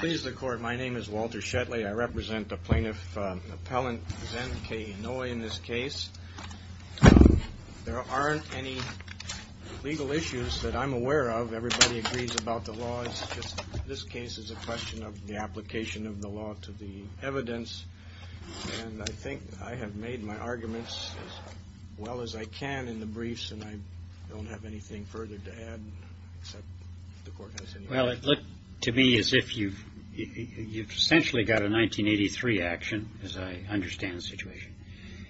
Please the court, my name is Walter Shetley. I represent the plaintiff, Appellant Zen K. Inouye in this case. There aren't any legal issues that I'm aware of. Everybody agrees about the law. It's just this case is a question of the application of the law to the evidence. I think I have made my arguments as well as I can in the briefs and I don't have anything further to add. Well, it looked to me as if you've essentially got a 1983 action, as I understand the situation,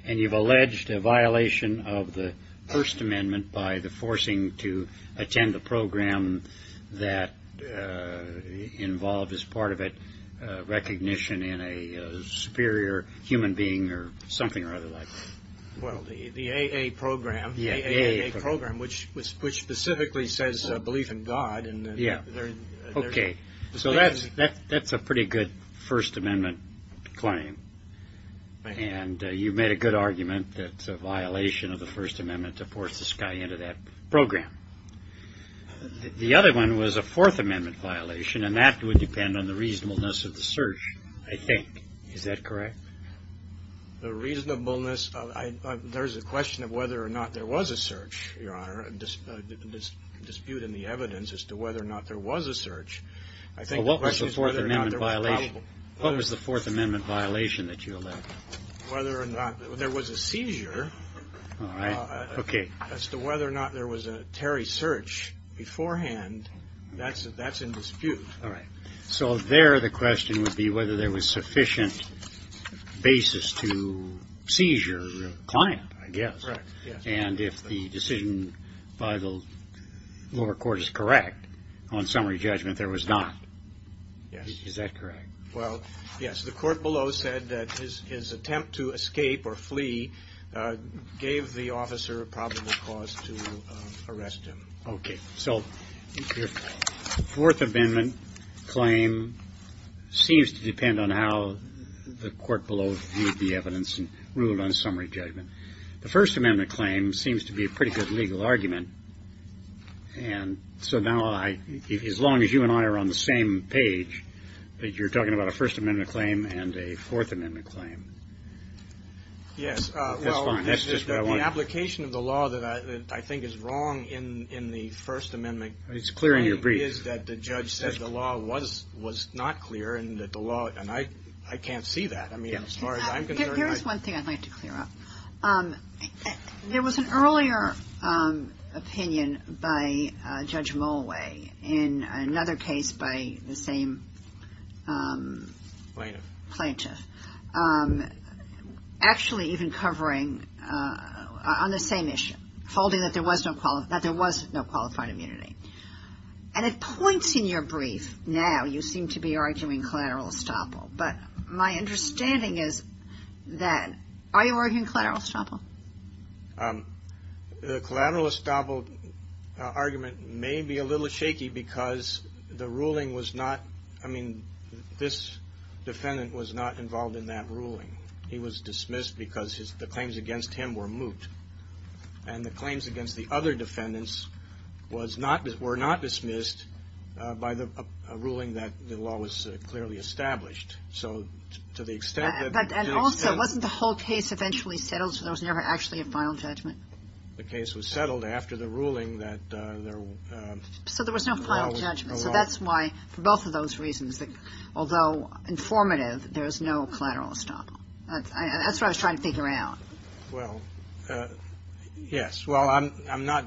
and you've alleged a violation of the First Amendment by the forcing to attend the superior human being or something or other like that. Well, the AA program, which specifically says belief in God. Yeah. Okay. So that's a pretty good First Amendment claim. And you've made a good argument that it's a violation of the First Amendment to force this guy into that program. The other one was a Fourth Amendment violation and that would depend on the reasonableness of the search, I think. Is that correct? The reasonableness of... There's a question of whether or not there was a search, Your Honor, a dispute in the evidence as to whether or not there was a search. I think... What was the Fourth Amendment violation that you allege? Whether or not there was a seizure as to whether or not there was a Terry search beforehand, that's in dispute. All right. So there the question would be whether there was sufficient basis to seizure a client, I guess. And if the decision by the lower court is correct, on summary judgment there was not. Yes. Is that correct? Well, yes. The court below said that his attempt to escape or flee gave the claim seems to depend on how the court below viewed the evidence and ruled on summary judgment. The First Amendment claim seems to be a pretty good legal argument. And so now, as long as you and I are on the same page, that you're talking about a First Amendment claim and a Fourth Amendment claim. Yes. Well, the application of the law that I think is wrong in the First Amendment is that the law was not clear and that the law... And I can't see that. I mean, as far as I'm concerned, I... Here's one thing I'd like to clear up. There was an earlier opinion by Judge Mollway in another case by the same... Plaintiff. Plaintiff. Actually even covering on the same issue, holding that there was no qualified immunity. And it points in your brief now, you seem to be arguing collateral estoppel. But my understanding is that... Are you arguing collateral estoppel? The collateral estoppel argument may be a little shaky because the ruling was not... I mean, this defendant was not involved in that ruling. He was dismissed because the claims against him were moot. And the claims against the other defendants were not dismissed by the ruling that the law was clearly established. So to the extent that... And also, wasn't the whole case eventually settled so there was never actually a final judgment? The case was settled after the ruling that there... So there was no final judgment. So that's why, for both of those reasons, although informative, there's no collateral estoppel. That's what I was trying to figure out. Well, yes. Well, I'm not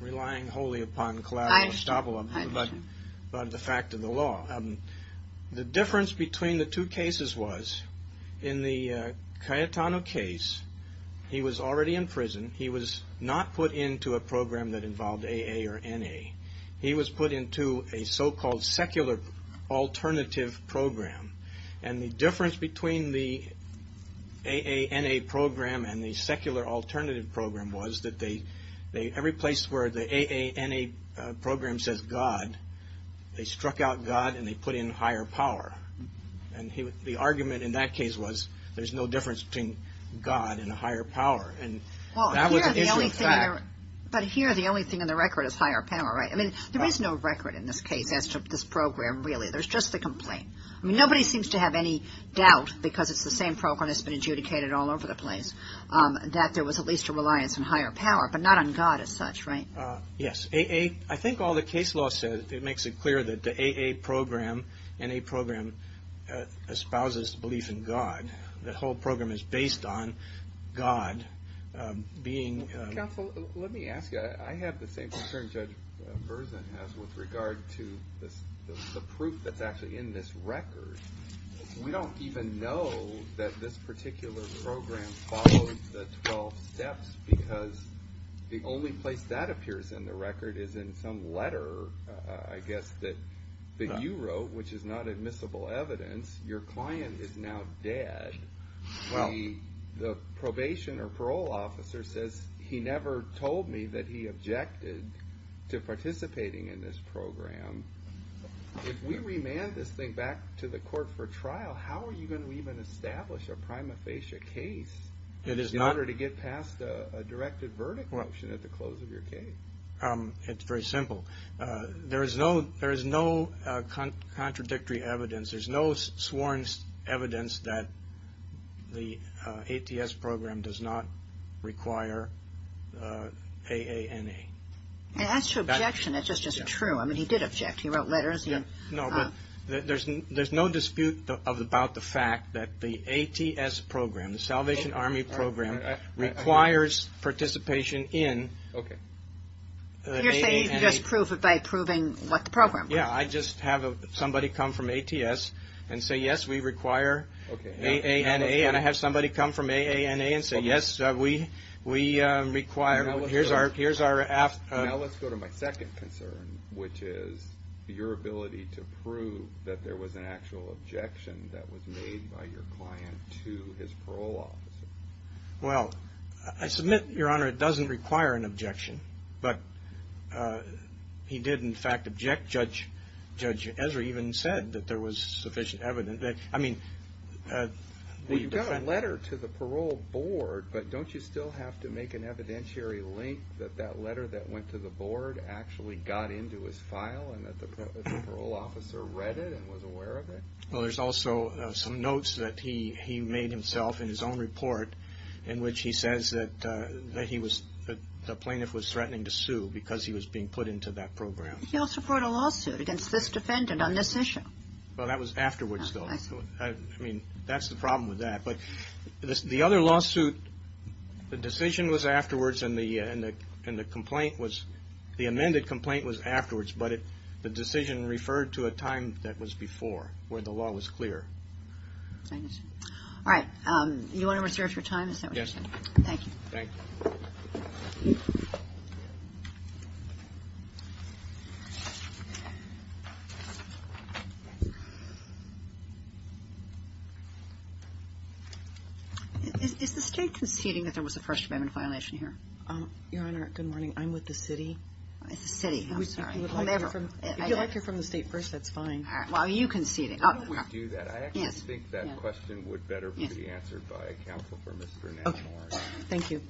relying wholly upon collateral estoppel, but the fact of the law. The difference between the two cases was, in the Cayetano case, he was already in prison. He was not put into a program that involved AA or NA. He was put into a so-called secular alternative program. And the difference between the AA-NA program and the secular alternative program was that every place where the AA-NA program says God, they struck out God and they put in higher power. And the argument in that case was, there's no difference between God and a higher power. And that was an issue of fact. But here, the only thing in the record is higher power, right? I mean, there is no record in this case as to this program, really. There's just the complaint. I mean, nobody seems to have any doubt, because it's the same program that's been adjudicated all over the place, that there was at least a reliance on higher power, but not on God as such, right? Yes. I think all the case law says, it makes it clear that the AA program, NA program, espouses belief in God. And the whole program is based on God being... Counsel, let me ask you, I have the same concern Judge Berzin has with regard to the proof that's actually in this record. We don't even know that this particular program follows the 12 steps, because the only place that appears in the record is in some letter, I guess, that you wrote, which is not admissible evidence. Your client is now dead. The probation or parole officer says, he never told me that he objected to participating in this program. If we remand this thing back to the court for trial, how are you going to even establish a prima facie case? In order to get past a directed verdict motion at the close of your case? It's very simple. There is no contradictory evidence. There's no sworn evidence that the ATS program does not require AANA. That's your objection. That's just true. I mean, he did object. He wrote letters. There's no dispute about the fact that the ATS program, the Salvation Army program, requires participation in AANA. You're saying you can just prove it by proving what the program was. Yeah, I just have somebody come from ATS and say, yes, we require AANA. And I have somebody come from AANA and say, yes, we require... Now let's go to my second concern, which is your ability to prove that there was an actual objection that was made by your client to his parole officer. Well, I submit, Your Honor, it doesn't require an objection. But he did, in fact, object. Judge Ezra even said that there was sufficient evidence. Well, you got a letter to the parole board, but don't you still have to make an evidentiary link that that letter that went to the board actually got into his file and that the parole officer read it and was aware of it? Well, there's also some notes that he made himself in his own report in which he says that the plaintiff was threatening to sue because he was being put into that program. He also brought a lawsuit against this defendant on this issue. Well, that was afterwards, though. I mean, that's the problem with that. But the other lawsuit, the decision was afterwards and the complaint was... The amended complaint was afterwards, but the decision referred to a time that was before where the law was clear. All right. You want to reserve your time? Yes. Thank you. Thank you. Is the state conceding that there was a First Amendment violation here? Your Honor, good morning. I'm with the city. It's the city. I'm sorry. If you'd like to hear from the state first, that's fine. Well, are you conceding? I don't want to do that. I actually think that question would better be answered by a counsel for Mr. Nash-Morris. Thank you.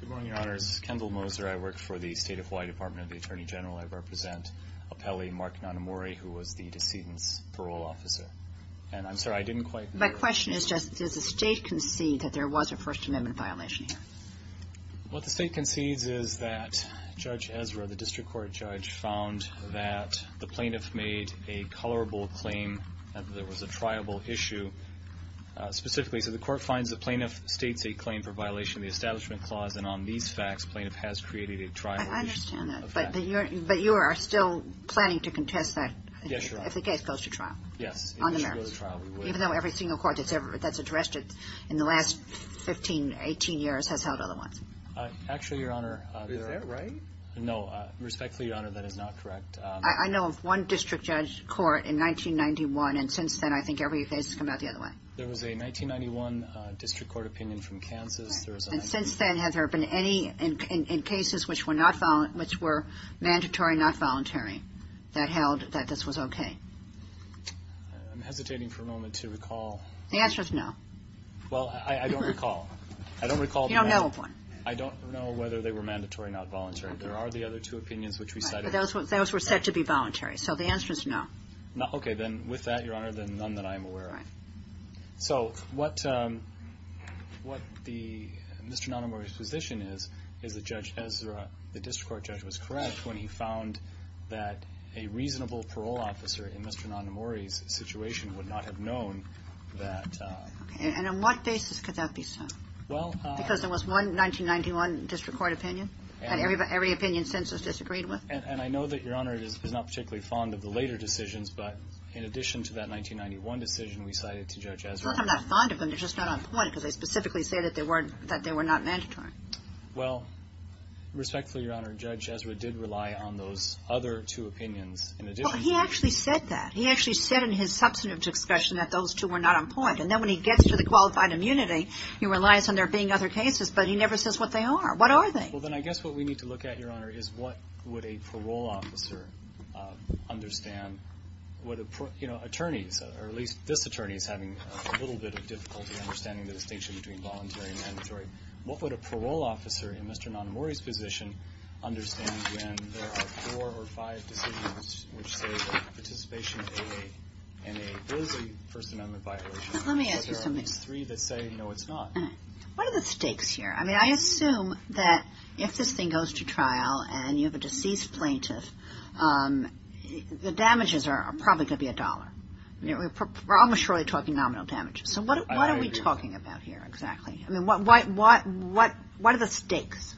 Good morning, Your Honors. This is Kendall Moser. I work for the State of Hawaii Department of the Attorney General. I represent Apele Mark Nanamori, who was the decedent's parole officer. And I'm sorry, I didn't quite... My question is just, does the state concede that there was a First Amendment violation here? What the state concedes is that Judge Ezra, the district court judge, found that the plaintiff made a colorable claim that there was a triable issue. Specifically, so the court finds the plaintiff states a claim for violation of the Establishment Clause, and on these facts, plaintiff has created a triable issue. I understand that. But you are still planning to contest that? Yes, Your Honor. If the case goes to trial? Yes. Even though every single court that's addressed it in the last 15, 18 years has held other ones? Actually, Your Honor... Is that right? No. Respectfully, Your Honor, that is not correct. I know of one district judge court in 1991, and since then I think every case has come out the other way. There was a 1991 district court opinion from Kansas. And since then, have there been any cases which were mandatory, not voluntary, that held that this was okay? I'm hesitating for a moment to recall. The answer is no. Well, I don't recall. You don't know of one. I don't know whether they were mandatory, not voluntary. There are the other two opinions which we cited. Those were said to be voluntary, so the answer is no. Okay, then with that, Your Honor, then none that I am aware of. So what Mr. Nonamori's position is, is that Judge Ezra, the district court judge, was correct when he found that a reasonable parole officer in Mr. Nonamori's situation would not have known that... And on what basis could that be so? Because there was one 1991 district court opinion that every opinion since has disagreed with? And I know that Your Honor is not particularly fond of the later decisions, but in addition to that 1991 decision, we cited to Judge Ezra... I'm not fond of them. They're just not on point because they specifically say that they were not mandatory. Well, respectfully, Your Honor, Judge Ezra did rely on those other two opinions in addition to... Well, he actually said that. He actually said in his substantive discussion that those two were not on point. And then when he gets to the qualified immunity, he relies on there being other cases, but he never says what they are. What are they? Well, then I guess what we need to look at, Your Honor, is what would a parole officer understand? You know, attorneys, or at least this attorney is having a little bit of difficulty understanding the distinction between voluntary and mandatory. What would a parole officer in Mr. Nonamori's position understand when there are four or five decisions which say that participation in a first amendment violation... Let me ask you something. Are there at least three that say, no, it's not? What are the stakes here? I mean, I assume that if this thing goes to trial and you have a deceased plaintiff, the damages are probably going to be a dollar. We're almost surely talking nominal damages. So what are we talking about here exactly? I mean, what are the stakes?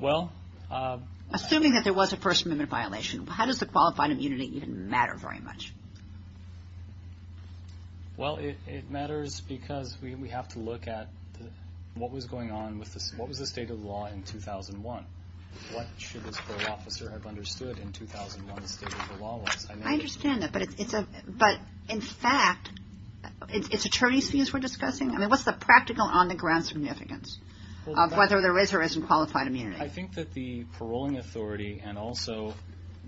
Well... Assuming that there was a first amendment violation, how does the qualified immunity even matter very much? Well, it matters because we have to look at what was going on, what was the state of the law in 2001? What should this parole officer have understood in 2001 the state of the law was? I understand that, but in fact, it's attorney's fees we're discussing? I mean, what's the practical on-the-ground significance of whether there is or isn't qualified immunity? I think that the paroling authority and also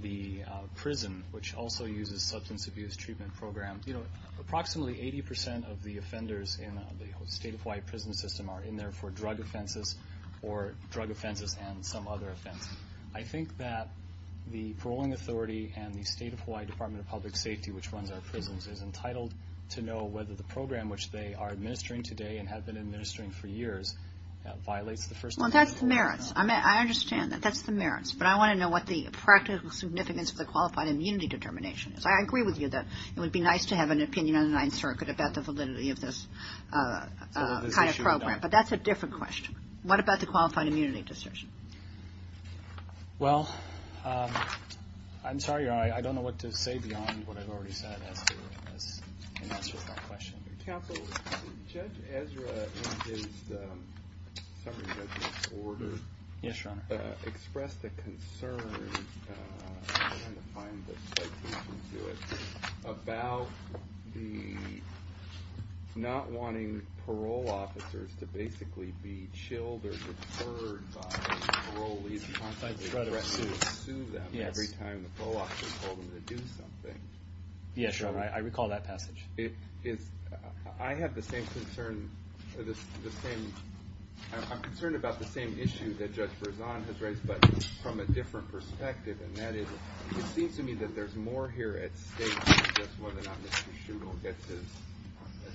the prison, which also uses substance abuse treatment programs, approximately 80 percent of the offenders in the state of Hawaii prison system are in there for drug offenses or drug offenses and some other offense. I think that the paroling authority and the state of Hawaii Department of Public Safety, which runs our prisons, is entitled to know whether the program which they are administering today and have been administering for years violates the first amendment. Well, that's the merits. I understand that. That's the merits. But I want to know what the practical significance of the qualified immunity determination is. I agree with you that it would be nice to have an opinion on the Ninth Circuit about the validity of this kind of program. But that's a different question. What about the qualified immunity decision? Well, I'm sorry. I don't know what to say beyond what I've already said in answer to that question. Counsel, Judge Ezra in his summary judgment order expressed a concern, I'm trying to find the citation to it, about the not wanting parole officers to basically be chilled or deferred by parolees to sue them every time the parole officer told them to do something. Yes, Your Honor. I recall that passage. I have the same concern, I'm concerned about the same issue that Judge Berzon has raised, but from a different perspective, and that is it seems to me that there's more here at stake than just whether or not Mr. Schuttle gets his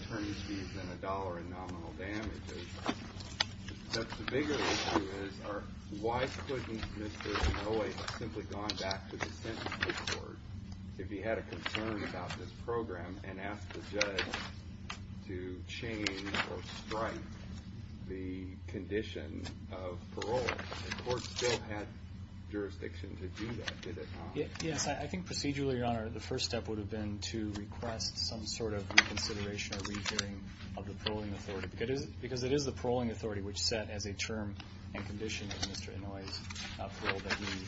attorney's fees and a dollar in nominal damages. But the bigger issue is why couldn't Mr. Inouye have simply gone back to the sentencing court if he had a concern about this program and asked the judge to change or strike the condition of parole? The court still had jurisdiction to do that, did it not? Yes. I think procedurally, Your Honor, the first step would have been to request some sort of reconsideration or re-hearing of the paroling authority, because it is the paroling authority which set as a term and condition of Mr. Inouye's appeal that he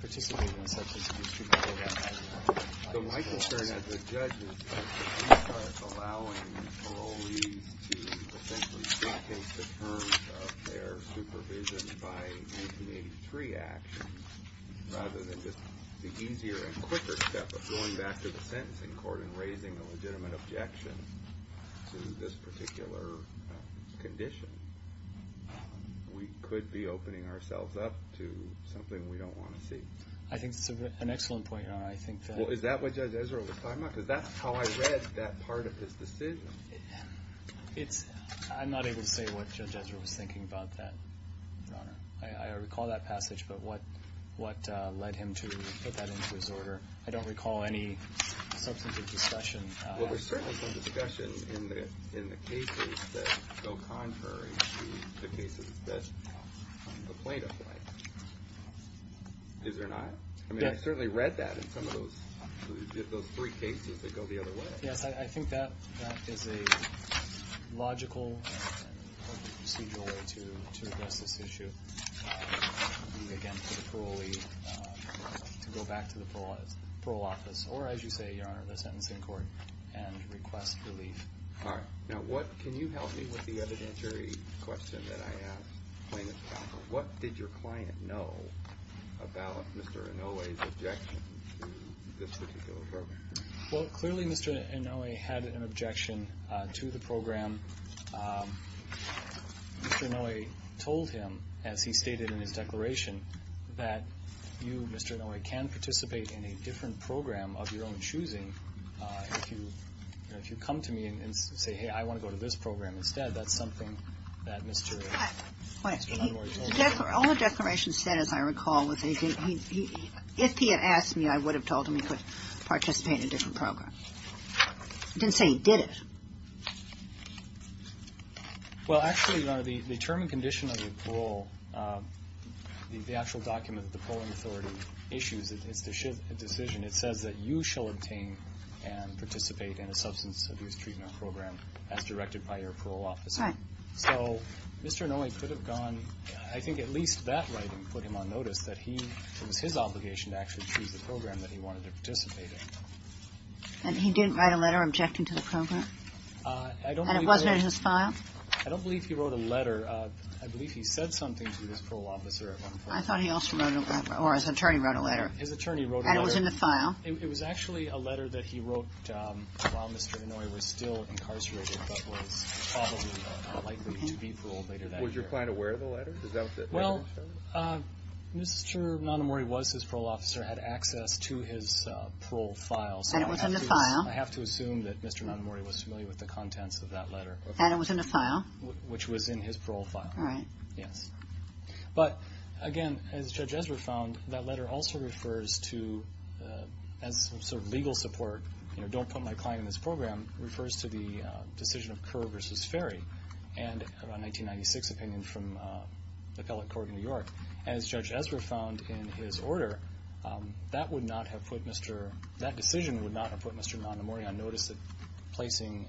participate in such as a district program. So my concern as a judge is that he starts allowing parolees to essentially take into terms of their supervision by 1883 actions rather than just the easier and quicker step of going back to the sentencing court and raising a legitimate objection to this particular condition. We could be opening ourselves up to something we don't want to see. I think that's an excellent point, Your Honor. Well, is that what Judge Ezra was talking about? Because that's how I read that part of his decision. I'm not able to say what Judge Ezra was thinking about that, Your Honor. I recall that passage, but what led him to put that into his order. I don't recall any substantive discussion. Well, there's certainly some discussion in the cases that go contrary to the cases that the plaintiff went. Is there not? I mean, I certainly read that in some of those three cases that go the other way. Yes, I think that is a logical and procedural way to address this issue. Again, for the parolee to go back to the parole office or, as you say, Your Honor, the sentencing court and request relief. All right. Now, can you help me with the evidentiary question that I asked Plaintiff's counsel? What did your client know about Mr. Inouye's objection to this particular program? Well, clearly Mr. Inouye had an objection to the program. And Mr. Inouye told him, as he stated in his declaration, that you, Mr. Inouye, can participate in a different program of your own choosing. If you come to me and say, hey, I want to go to this program instead, that's something that Mr. Inouye told you. All the declarations said, as I recall, was if he had asked me, I would have told him he could participate in a different program. He didn't say he did it. Well, actually, Your Honor, the term and condition of the parole, the actual document that the Parole Authority issues, it's a decision. It says that you shall obtain and participate in a substance abuse treatment program as directed by your parole officer. All right. So Mr. Inouye could have gone, I think at least that writing put him on notice that it was his obligation to actually choose the program that he wanted to participate in. And he didn't write a letter objecting to the program? And it wasn't in his file? I don't believe he wrote a letter. I believe he said something to his parole officer at one point. I thought he also wrote a letter, or his attorney wrote a letter. His attorney wrote a letter. And it was in the file. It was actually a letter that he wrote while Mr. Inouye was still incarcerated, but was probably likely to be paroled later that year. Was your client aware of the letter? Well, Mr. Nonomori was his parole officer, had access to his parole file. And it was in the file? I have to assume that Mr. Nonomori was familiar with the contents of that letter. And it was in the file? Which was in his parole file. All right. Yes. But, again, as Judge Ezra found, that letter also refers to, as sort of legal support, you know, don't put my client in this program, refers to the decision of Kerr v. Ferry and a 1996 opinion from the appellate court in New York. As Judge Ezra found in his order, that decision would not have put Mr. Nonomori on notice that placing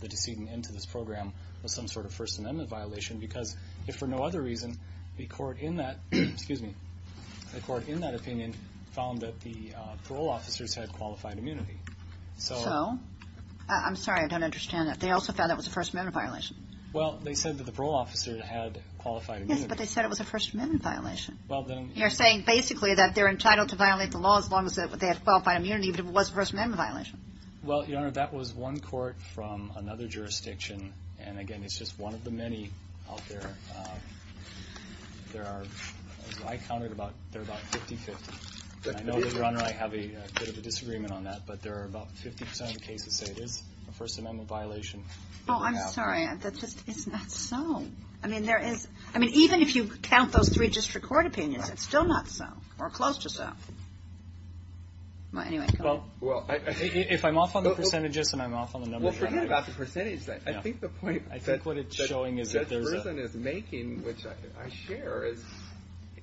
the decedent into this program was some sort of First Amendment violation, because if for no other reason, the court in that opinion found that the parole officers had qualified immunity. So? I'm sorry. I don't understand that. They also found that was a First Amendment violation. Well, they said that the parole officer had qualified immunity. Yes, but they said it was a First Amendment violation. You're saying basically that they're entitled to violate the law as long as they have qualified immunity, but it was a First Amendment violation. Well, Your Honor, that was one court from another jurisdiction. And, again, it's just one of the many out there. There are, as I counted, about 50-50. I know that Your Honor, I have a bit of a disagreement on that, but there are about 50% of the cases that say it is a First Amendment violation. Oh, I'm sorry. That just is not so. I mean, even if you count those three district court opinions, it's still not so or close to so. Anyway. Well, if I'm off on the percentages and I'm off on the numbers, Your Honor. Well, forget about the percentage. I think the point that Judge Risen is making, which I share, is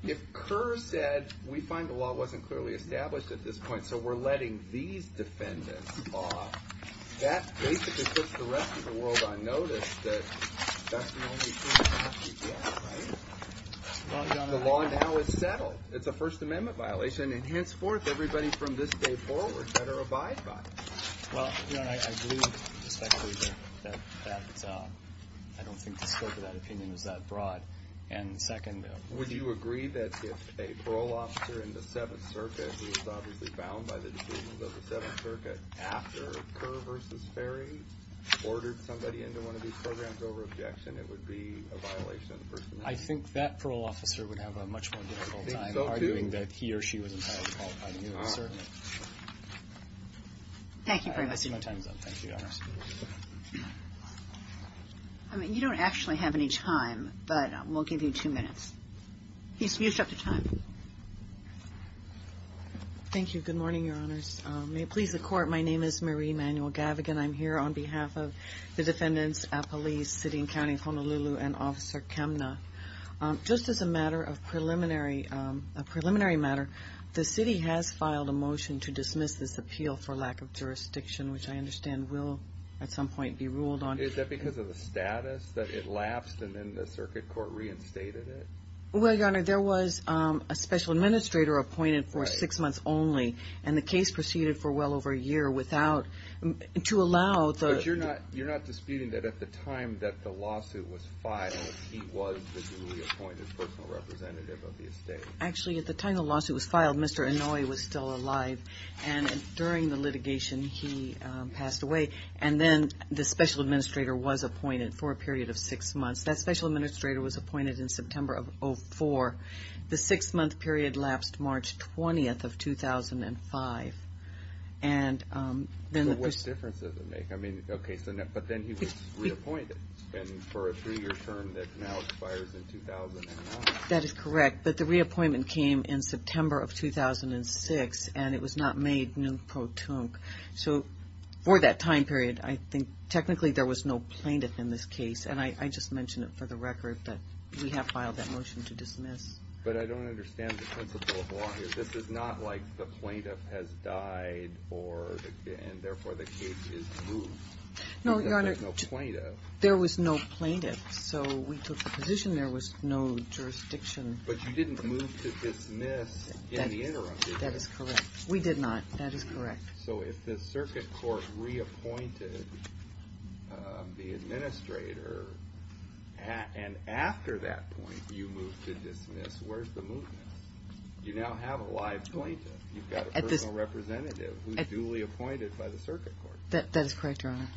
if Kerr said we find the law wasn't clearly established at this point, so we're letting these defendants off, that basically puts the rest of the world on notice that that's the only truth we have, right? Well, Your Honor. The law now is settled. It's a First Amendment violation. And henceforth, everybody from this day forward better abide by it. Well, Your Honor, I agree respectfully that I don't think the scope of that opinion is that broad. And second, of course. Would you agree that if a parole officer in the Seventh Circuit, who is obviously bound by the decisions of the Seventh Circuit, after Kerr v. Ferry ordered somebody into one of these programs over objection, it would be a violation of the First Amendment? I think that parole officer would have a much more difficult time arguing that he or she was entirely qualified to do it. Certainly. I see my time is up. Thank you, Your Honor. I mean, you don't actually have any time, but we'll give you two minutes. You're up to time. Thank you. Good morning, Your Honors. May it please the Court, my name is Marie Manuel-Gavigan. I'm here on behalf of the defendants, police, City and County of Honolulu, and Officer Kemna. Just as a matter of preliminary matter, the City has filed a motion to dismiss this appeal for lack of jurisdiction, which I understand will at some point be ruled on. Is that because of the status, that it lapsed and then the Circuit Court reinstated it? Well, Your Honor, there was a special administrator appointed for six months only, and the case proceeded for well over a year without, to allow the But you're not disputing that at the time that the lawsuit was filed, he was the duly appointed personal representative of the estate? Actually, at the time the lawsuit was filed, Mr. Inouye was still alive, and during the litigation he passed away, and then the special administrator was appointed for a period of six months. That special administrator was appointed in September of 2004. The six-month period lapsed March 20th of 2005. So what difference does it make? But then he was reappointed for a three-year term that now expires in 2009. That is correct, but the reappointment came in September of 2006, and it was not made non-pro-tunc. So for that time period, I think technically there was no plaintiff in this case, and I just mention it for the record that we have filed that motion to dismiss. But I don't understand the principle of law here. This is not like the plaintiff has died and therefore the case is moved. No, Your Honor. There was no plaintiff. There was no plaintiff, so we took the position there was no jurisdiction. But you didn't move to dismiss in the interim, did you? That is correct. We did not. That is correct. So if the circuit court reappointed the administrator, and after that point you moved to dismiss, where's the movement? You now have a live plaintiff. You've got a personal representative who's duly appointed by the circuit court. That is correct, Your Honor.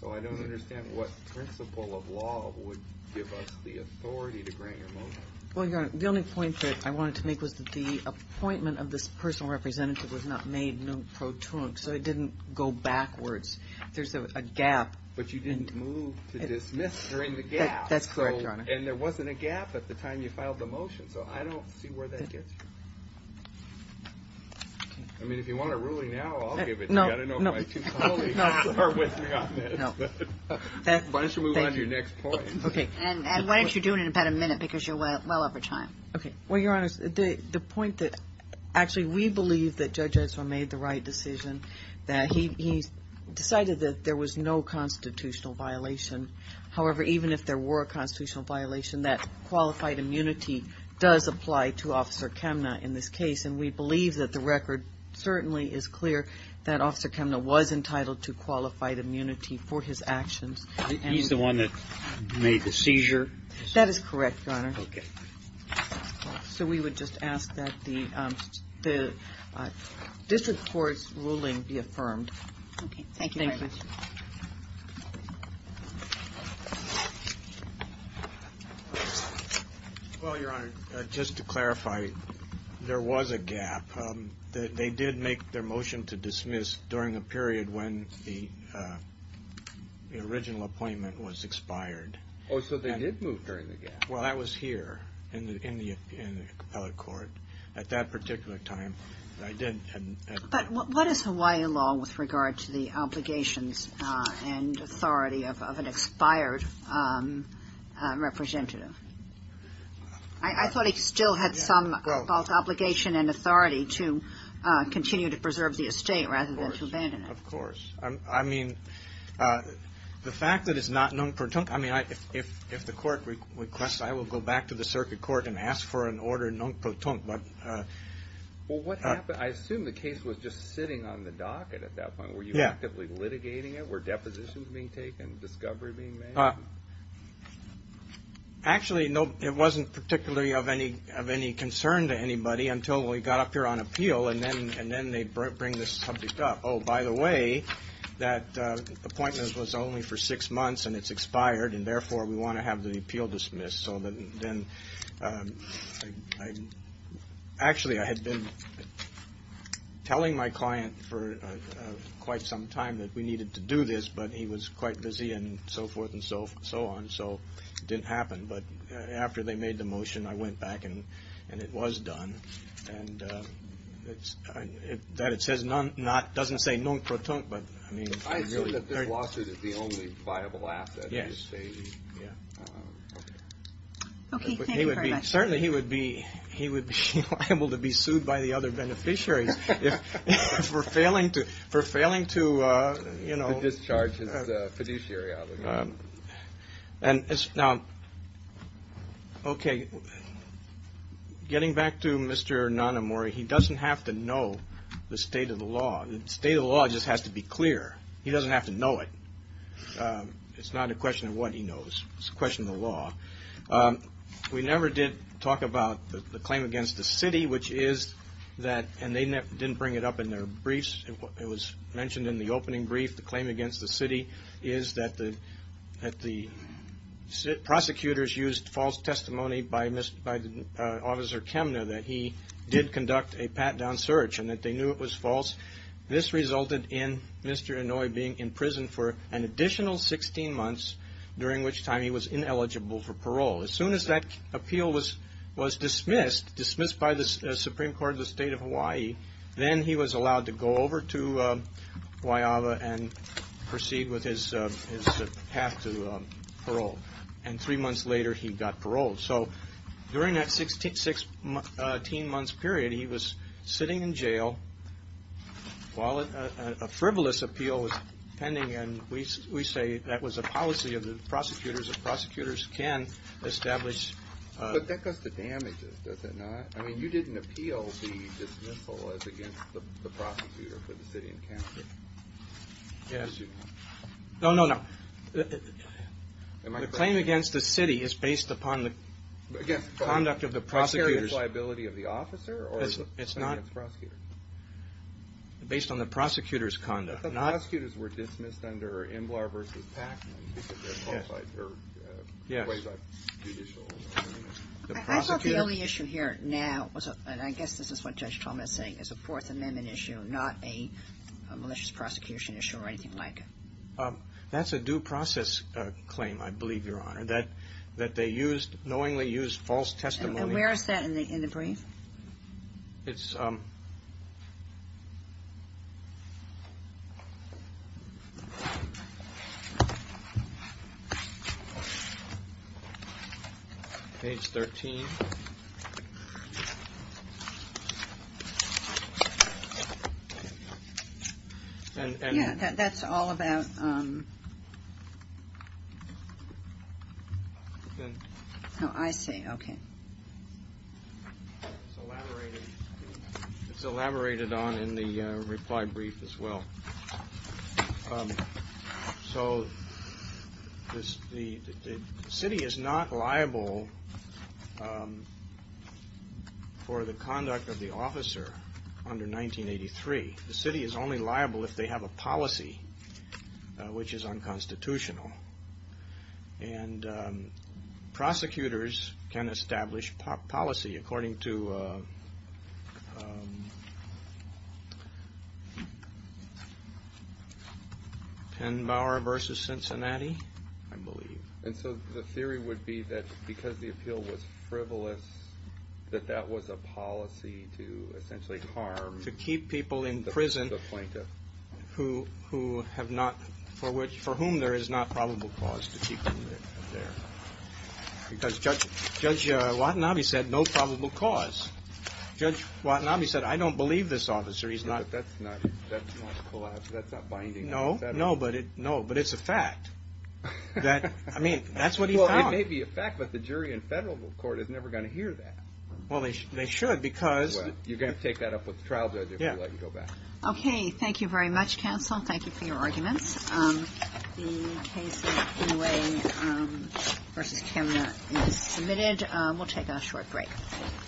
So I don't understand what principle of law would give us the authority to grant your motion. Well, Your Honor, the only point that I wanted to make was that the appointment of this personal representative was not made not pro trunc, so it didn't go backwards. There's a gap. But you didn't move to dismiss during the gap. That's correct, Your Honor. And there wasn't a gap at the time you filed the motion, so I don't see where that gets you. I mean, if you want a ruling now, I'll give it to you. I don't know if my two colleagues are with me on this. Why don't you move on to your next point? Okay. And why don't you do it in about a minute, because you're well over time. Okay. Well, Your Honor, the point that actually we believe that Judge Edsel made the right decision, that he decided that there was no constitutional violation. However, even if there were a constitutional violation, that qualified immunity does apply to Officer Kemna in this case, and we believe that the record certainly is clear that Officer Kemna was entitled to qualified immunity for his actions. He's the one that made the seizure? That is correct, Your Honor. Okay. So we would just ask that the district court's ruling be affirmed. Okay. Thank you very much. Thank you. Well, Your Honor, just to clarify, there was a gap. They did make their motion to dismiss during a period when the original appointment was expired. Oh, so they did move during the gap? Well, that was here in the appellate court. At that particular time, I did. But what is Hawaii law with regard to the obligations and authority of an expired representative? I thought he still had some obligation and authority to continue to preserve the estate rather than to abandon it. Of course. I mean, the fact that it's not non-plutonk, I mean, if the court requests, I will go back to the circuit court and ask for an order non-plutonk. Well, what happened? I assume the case was just sitting on the docket at that point. Were you actively litigating it? Were depositions being taken, discovery being made? Actually, it wasn't particularly of any concern to anybody until we got up here on appeal, and then they bring this subject up. Oh, by the way, that appointment was only for six months, and it's expired, and therefore we want to have the appeal dismissed. So then actually I had been telling my client for quite some time that we needed to do this, but he was quite busy and so forth and so on, so it didn't happen. But after they made the motion, I went back, and it was done. And that it says non-plutonk doesn't say non-plutonk, but I mean. I assume that this lawsuit is the only viable asset. Yes. Okay, thank you very much. Certainly he would be liable to be sued by the other beneficiaries for failing to, you know. To discharge his fiduciary obligation. Now, okay, getting back to Mr. Nanomori, he doesn't have to know the state of the law. The state of the law just has to be clear. He doesn't have to know it. It's not a question of what he knows. It's a question of the law. We never did talk about the claim against the city, which is that, and they didn't bring it up in their briefs. It was mentioned in the opening brief. The claim against the city is that the prosecutors used false testimony by Officer Kemne that he did conduct a pat-down search and that they knew it was false. This resulted in Mr. Inouye being in prison for an additional 16 months, during which time he was ineligible for parole. As soon as that appeal was dismissed, dismissed by the Supreme Court of the State of Hawaii, then he was allowed to go over to Guayaba and proceed with his path to parole. And three months later, he got parole. So during that 16-month period, he was sitting in jail while a frivolous appeal was pending, and we say that was a policy of the prosecutors that prosecutors can establish. But that does the damage, does it not? I mean, you didn't appeal the dismissal as against the prosecutor for the city encounter. Yes. No, no, no. The claim against the city is based upon the conduct of the prosecutors. Against the liability of the officer? It's not. Or against prosecutors? Based on the prosecutor's conduct. But the prosecutors were dismissed under Embler v. Pacman because they're qualified, or ways of judicial. I thought the only issue here now was, and I guess this is what Judge Talmadge is saying, is a Fourth Amendment issue, not a malicious prosecution issue or anything like it. That's a due process claim, I believe, Your Honor, that they used, knowingly used false testimony. It's... Page 13. Yeah, that's all about... Oh, I see, okay. It's elaborated on in the reply brief as well. So the city is not liable for the conduct of the officer under 1983. The city is only liable if they have a policy which is unconstitutional. And prosecutors can establish policy according to... Penn-Bauer v. Cincinnati, I believe. And so the theory would be that because the appeal was frivolous, that that was a policy to essentially harm... Because Judge Watanabe said no probable cause. Judge Watanabe said, I don't believe this officer. He's not... No, no, but it's a fact. I mean, that's what he found. Well, it may be a fact, but the jury in federal court is never going to hear that. Well, they should because... Well, you're going to have to take that up with the trial judge if we let you go back. Okay, thank you very much, counsel. Thank you for your arguments. The case of Inouye v. Cameron is submitted. We'll take a short break.